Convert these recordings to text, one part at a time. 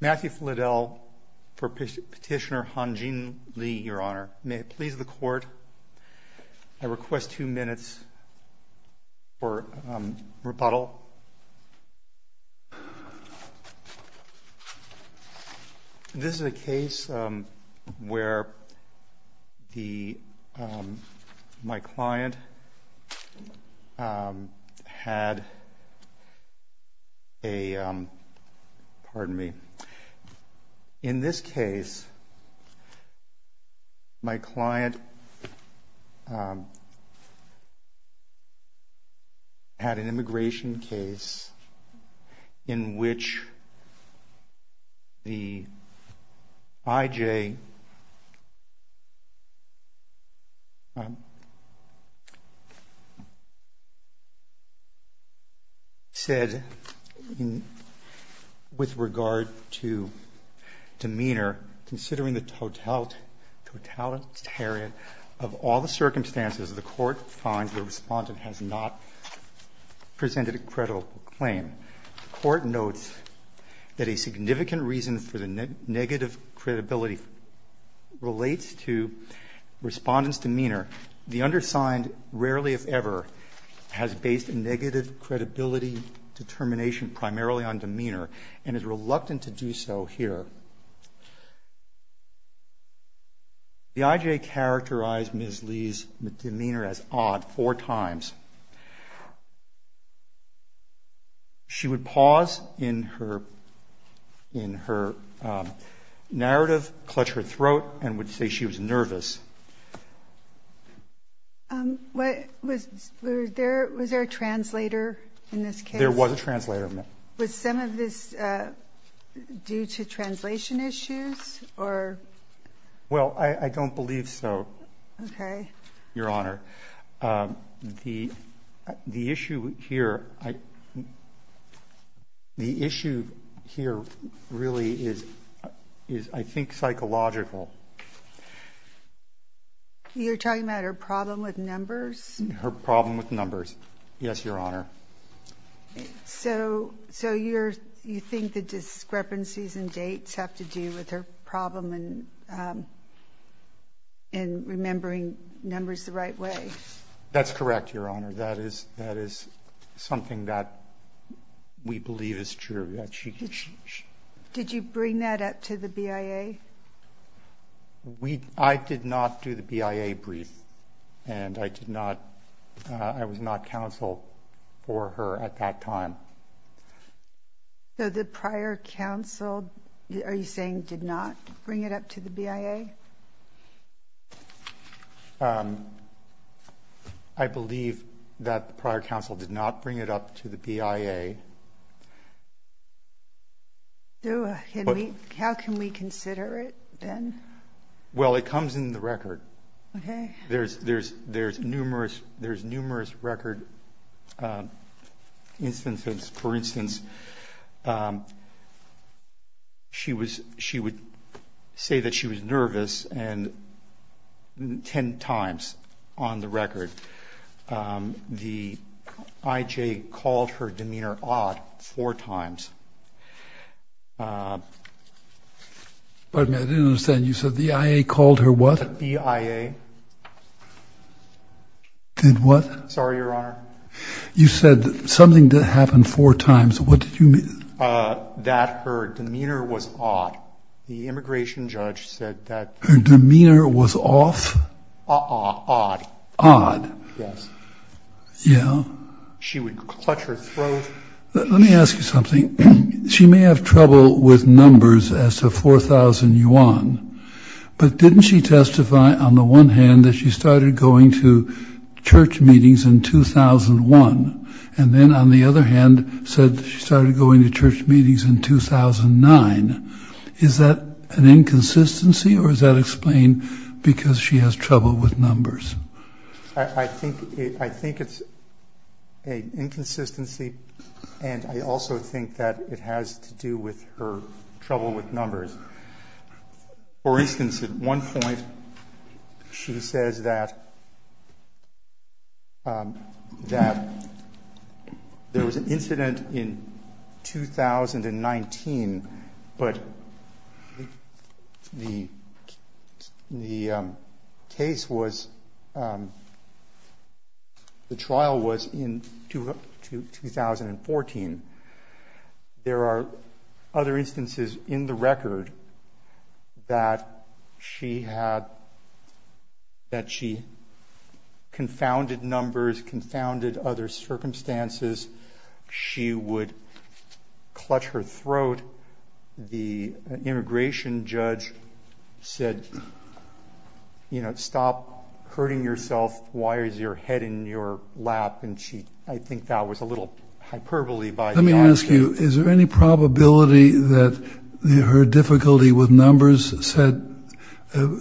Matthew Fledell for Petitioner Han Jin Lee, Your Honor. May it please the Court, I request two minutes for rebuttal. This is a case where my client had a, pardon me, in this case had an immigration case in which the I.J. said with regard to demeanor, considering the totalitarian of all the circumstances, the Court finds the respondent has not presented a credible claim. The Court notes that a significant reason for the negative credibility relates to respondent's demeanor. The undersigned rarely, if ever, has based a negative credibility determination primarily on demeanor and is reluctant to do so here. The I.J. characterized Ms. Li's demeanor as odd four times. She would pause in her narrative, clutch her throat, and would say she was nervous. Was there a translator in this case? There was a translator. Was some of this due to translation issues? Well, I don't believe so, Your Honor. The issue here is I think psychological. You're talking about her problem with numbers? Her problem with numbers, yes, Your Honor. So you think the discrepancies in dates have to do with her problem in remembering numbers the right way? That's correct, Your Honor. That is something that we believe is true. She brought that up to the BIA? I did not do the BIA brief, and I was not counsel for her at that time. So the prior counsel, are you saying did not bring it up to the BIA? I believe that the prior counsel did not bring it up to the BIA. How can we consider it then? Well, it comes in the record. There's numerous record instances. For instance, she would say that she was nervous ten times on the record. The IJ called her demeanor odd four times. Pardon me, I didn't understand. You said the IA called her what? BIA. Did what? Sorry, Your Honor. You said something that happened four times. What did you mean? That her odd? Yes. Yeah. She would clutch her throat. Let me ask you something. She may have trouble with numbers as to 4,000 yuan, but didn't she testify on the one hand that she started going to church meetings in 2001, and then on the other hand, said she started going to church meetings in 2009. Is that an inconsistency or is that explained because she has trouble with numbers? I think it's an inconsistency, and I also think that it has to do with her trouble with numbers. For instance, at one point, she says that there was an incident in 2019, but the trial was in 2014. There are other instances in the record that she had, that she confounded numbers, confounded other circumstances. She would clutch her throat. The immigration judge said, you know, stop hurting yourself. Why is your head in your lap? And she, I think that was a little hyperbole. Let me ask you, is there any probability that her difficulty with numbers said,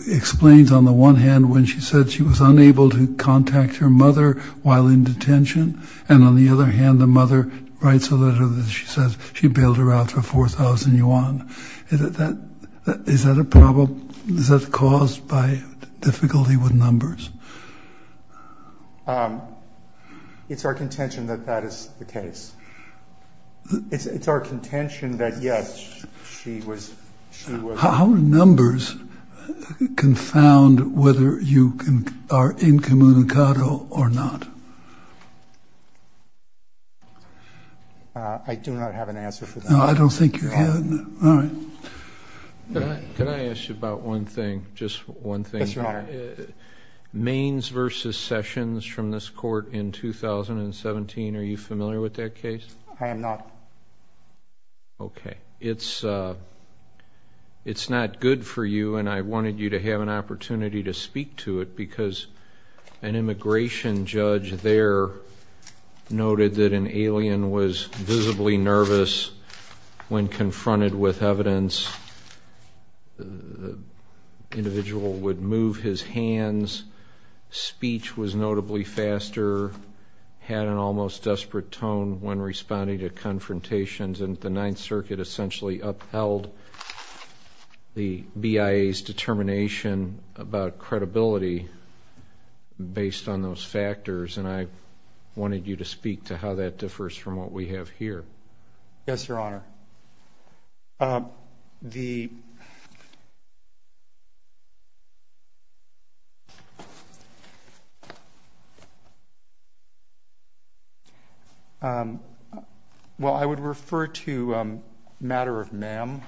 explains on the one hand when she said she was unable to contact her mother while in detention? And on the other hand, the mother writes a letter that she says she bailed her out for 4,000 yuan. Is that a problem? Is that caused by difficulty with numbers? It's our contention that that is the case. It's our contention that, yes, she was. How are numbers confound whether you are incommunicado or not? I do not have an answer for that. No, I don't think you're having it. All right. Can I ask you about one thing? Just one thing. Yes, your honor. Mains versus Sessions from this court in 2017. Are you familiar with that case? I am not. Okay. It's, it's not good for you. And I wanted you to have an opportunity to speak to it because an immigration judge there noted that an when confronted with evidence, the individual would move his hands. Speech was notably faster, had an almost desperate tone when responding to confrontations. And the Ninth Circuit essentially upheld the BIA's determination about credibility based on those factors. And I wanted you to speak to how that differs from what we have here. Yes, your honor. The well, I would refer to matter of MAM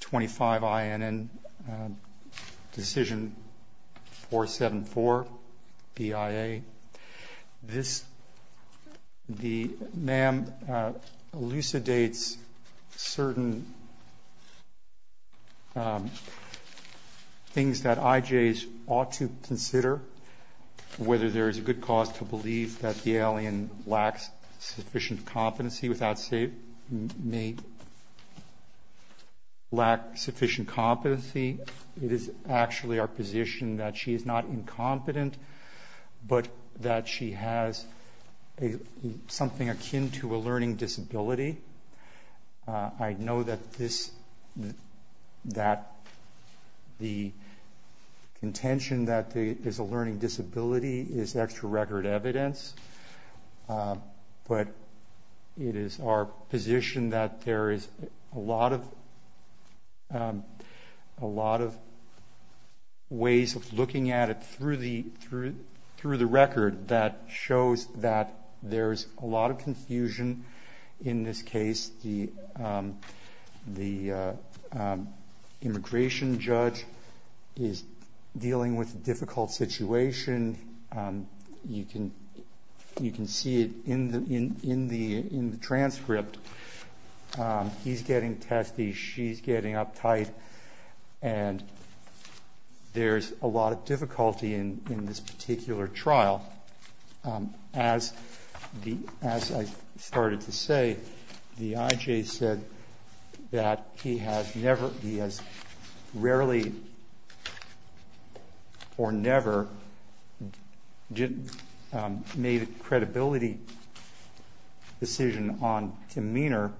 25 INN decision 474 BIA. This, the MAM elucidates certain things that IJs ought to consider, whether there is a good cause to believe that the alien lacks sufficient competency without say may lack sufficient competency. It is actually our position that she is not incompetent, but that she has a, something akin to a learning disability. I know that this, that the intention that there is a learning disability is extra record evidence. But it is our position that there is a lot of, a lot of ways of looking at it through the, through, through the record that shows that there's a lot of confusion in this case. The, the immigration judge is dealing with a difficult situation. You can, you can see it in the, in the, in the transcript. He's started to say, the IJ said that he has never, he has rarely or never made a credibility decision on demeanor,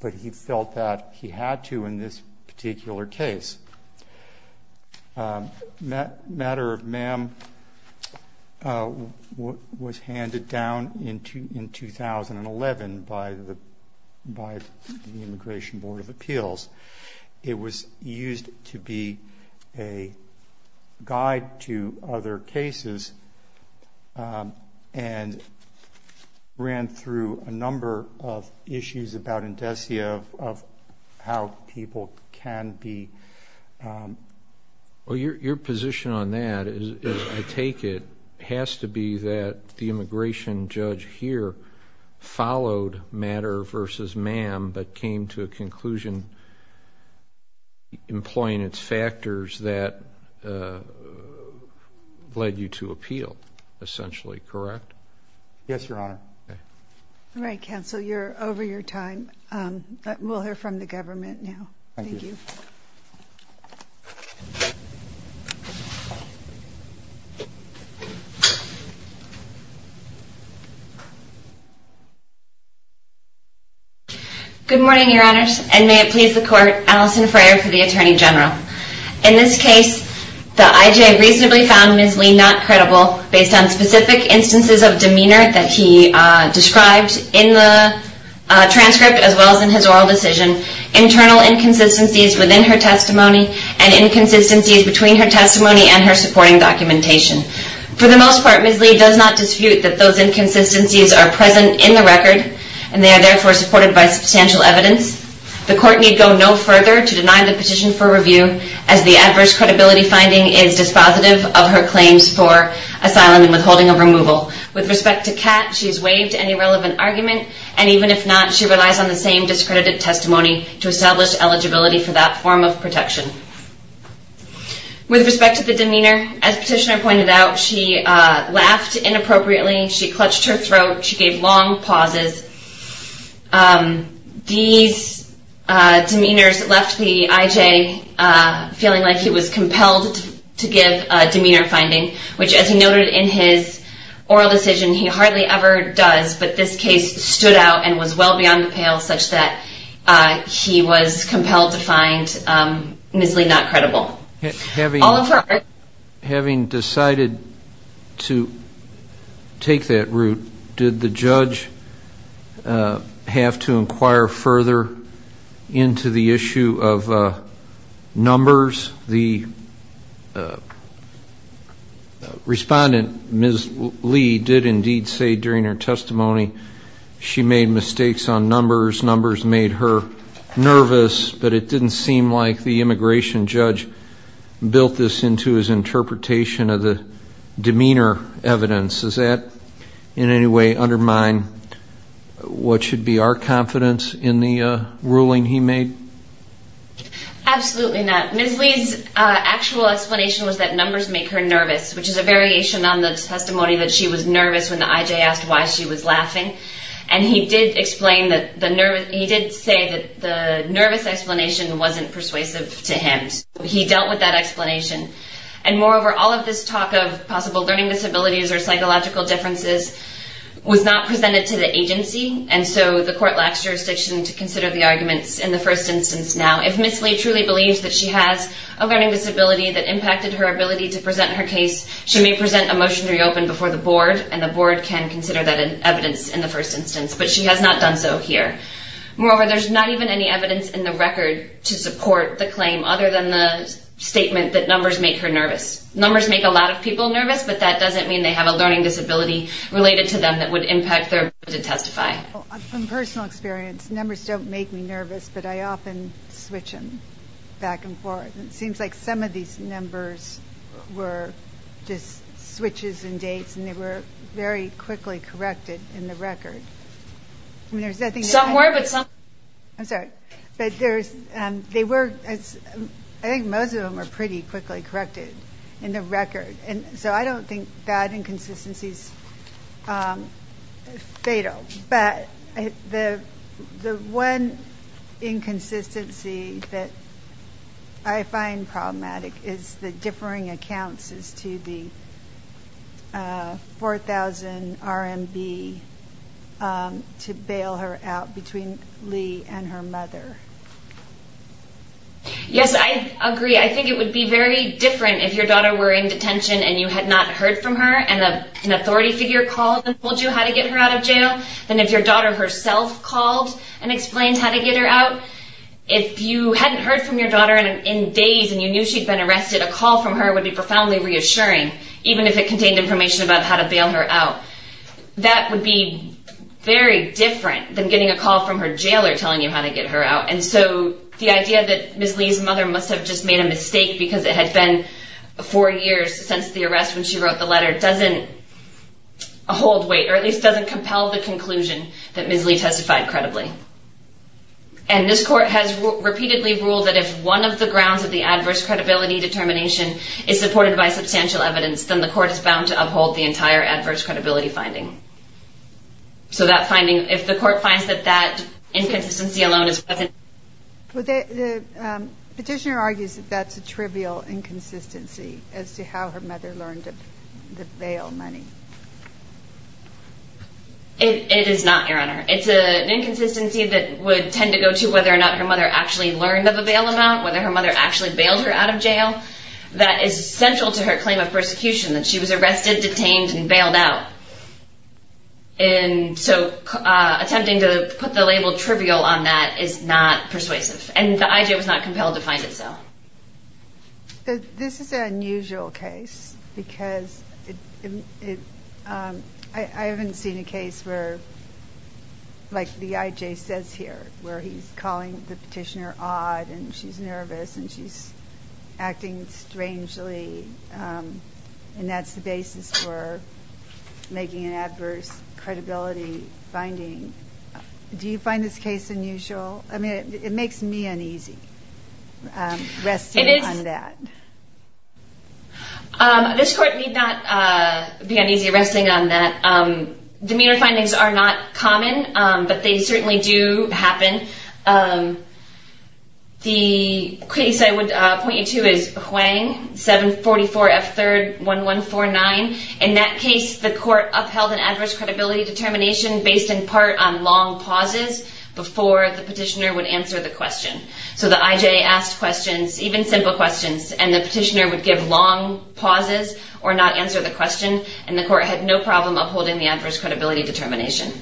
but he felt that he had to in this 1111 by the, by the immigration board of appeals, it was used to be a guide to other cases and ran through a number of issues about indesia of how people can be, um, well, your, your position on that is I take it has to be that the immigration judge here followed matter versus ma'am, but came to a conclusion, employing its factors that, uh, led you to appeal essentially. Correct? Yes, your honor. All right, counsel, you're over your time. Um, we'll hear from the government now. Thank you. Good morning, your honors, and may it please the court, Alison Freyer for the attorney general. In this case, the IJ reasonably found Ms. Lee's demeanor that he, uh, described in the, uh, transcript as well as in his oral decision, internal inconsistencies within her testimony and inconsistencies between her testimony and her supporting documentation. For the most part, Ms. Lee does not dispute that those inconsistencies are present in the record, and they are therefore supported by substantial evidence. The court need go no further to deny the petition for review as the adverse credibility finding is dispositive of her testimony. With respect to Kat, she's waived any relevant argument, and even if not, she relies on the same discredited testimony to establish eligibility for that form of protection. With respect to the demeanor, as petitioner pointed out, she, uh, laughed inappropriately, she clutched her throat, she gave long pauses. Um, these, uh, to give, uh, demeanor finding, which as he noted in his oral decision, he hardly ever does, but this case stood out and was well beyond the pale such that, uh, he was compelled to find, um, Ms. Lee not to be found guilty. Um, the, uh, respondent, Ms. Lee, did indeed say during her testimony she made mistakes on numbers, numbers made her nervous, but it didn't seem like the immigration judge built this into his interpretation of the demeanor evidence. Is that, in any way, undermine what should be our confidence in the, uh, ruling he made? Absolutely not. Ms. Lee's, uh, actual explanation was that numbers make her nervous, which is a variation on the testimony that she was nervous when the IJ asked why she was laughing, and he did explain that the nervous, he did say that the nervous explanation wasn't persuasive to him. He dealt with that explanation, and moreover, all of this talk of possible learning disabilities or psychological differences was not presented to the agency, and so the court lacks jurisdiction to consider the arguments in the first instance. Now, if Ms. Lee truly believes that she has a learning disability that impacted her ability to present her case, she may present a motion to reopen before the board, and the board can consider that evidence in the first instance, but she has not done so here. Moreover, there's not even any evidence in the record to support the claim other than the statement that numbers make her nervous. Numbers make a lot of people nervous, but that doesn't mean they have a learning disability related to them that would impact their ability to testify. From personal experience, numbers don't make me nervous, but I often switch them back and forth. It seems like some of these numbers were just switches and dates, and they were very quickly corrected in the record. I'm sorry, but they were, I think most of them were pretty quickly corrected in the record, and so I don't think that inconsistency is fatal, but the one inconsistency that I find problematic is the differing accounts as to the 4,000 RMB. Yes, I agree. I think it would be very different if your daughter were in detention and you had not heard from her, and an authority figure called and told you how to get her out of jail, than if your daughter herself called and explained how to get her out. If you hadn't heard from your daughter in days and you knew she'd been arrested, a call from her would be profoundly reassuring, even if it contained information about how to bail her out. That would be very different than getting a call from her jailer telling you how to get her out, and so the idea that Ms. Lee's mother must have just made a mistake because it had been four years since the arrest when she wrote the letter doesn't hold weight, or at least doesn't compel the conclusion that Ms. Lee testified credibly. And this court has repeatedly ruled that if one of the grounds of the adverse credibility determination is supported by substantial evidence, then the court is bound to uphold the entire adverse credibility finding. So that finding, if the court finds that that inconsistency alone is present, then that's a trivial inconsistency as to how her mother learned to bail money. It is not, Your Honor. It's an inconsistency that would tend to go to whether or not her mother actually learned of a bail amount, whether her mother actually bailed her out of jail. That is central to her claim of persecution, that she was arrested, detained, and bailed out. And so attempting to put the label trivial on that is not persuasive, and the IJ was not compelled to find it so. This is an unusual case because I haven't seen a case where, like the IJ says here, where he's calling the petitioner odd, and she's nervous, and she's acting strangely, and that's the basis for making an adverse credibility finding. Do you find this case unusual? I mean, it makes me uneasy. This court need not be uneasy resting on that. Demeanor findings are not common, but they certainly do happen. The case I would point you to is Huang 744F31149. In that case, the court upheld an adverse credibility determination based in part on long pauses before the petitioner would answer the question. So the IJ asked questions, even simple questions, and the petitioner would give long pauses or not answer the question, and the court had no problem upholding the adverse credibility determination.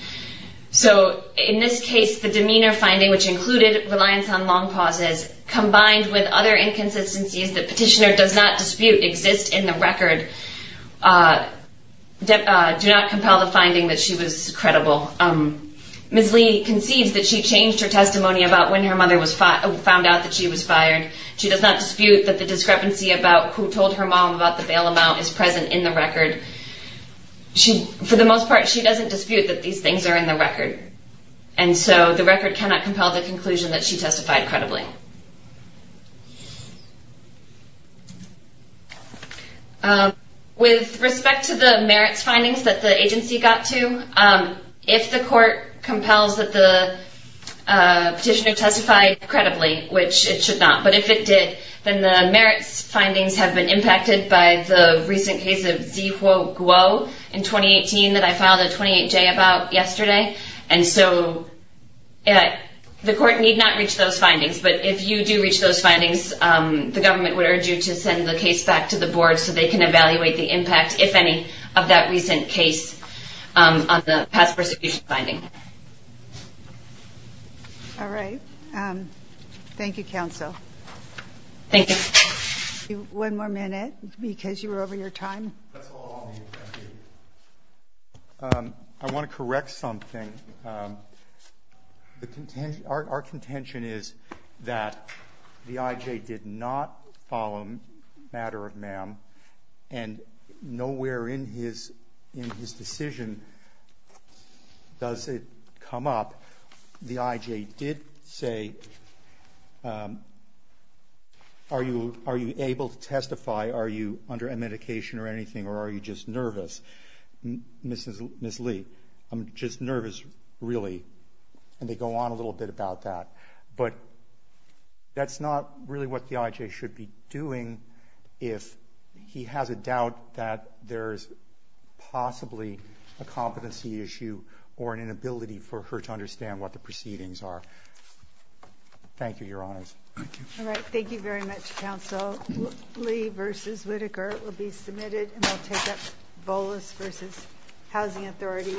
So in this case, the demeanor finding, which included reliance on long pauses, combined with other inconsistencies that petitioner does not dispute exist in the record, do not compel the finding that she was credible. Ms. Lee concedes that she changed her testimony about when her mother found out that she was fired. She does not dispute that the discrepancy about who told her mom about the bail amount is present in the record. For the most part, she doesn't dispute that these things are in the record, and so the record cannot compel the conclusion that she testified credibly. With respect to the merits findings that the agency got to, if the court compels that the petitioner testified credibly, which it should not, but if it did, then the merits findings have been impacted by the recent case of Z-Huo Guo in 2018 that I filed a 28-J about yesterday. And so the court need not reach those findings, but if you do reach those findings, the government would urge you to send the case back to the board so they can evaluate the impact, if any, of that recent case on the past prosecution finding. All right. Thank you, counsel. Thank you. One more minute, because you were over your time. That's all I'll need. Thank you. I want to correct something. Our contention is that the IJ did not follow a matter of ma'am, and nowhere in his decision does it come up, the IJ did say, are you able to testify, are you under a medication or anything, or are you just nervous? Ms. Lee, I'm just nervous, really. And they go on a little bit about that. But that's not really what the IJ should be doing if he has a doubt that there's possibly a competency issue or an inability for her to understand what the proceedings are. Thank you, your honors. Thank you. All right. Thank you very much, counsel. Counsel Lee versus Whitaker will be submitted, and we'll take up Volus versus Housing Authority.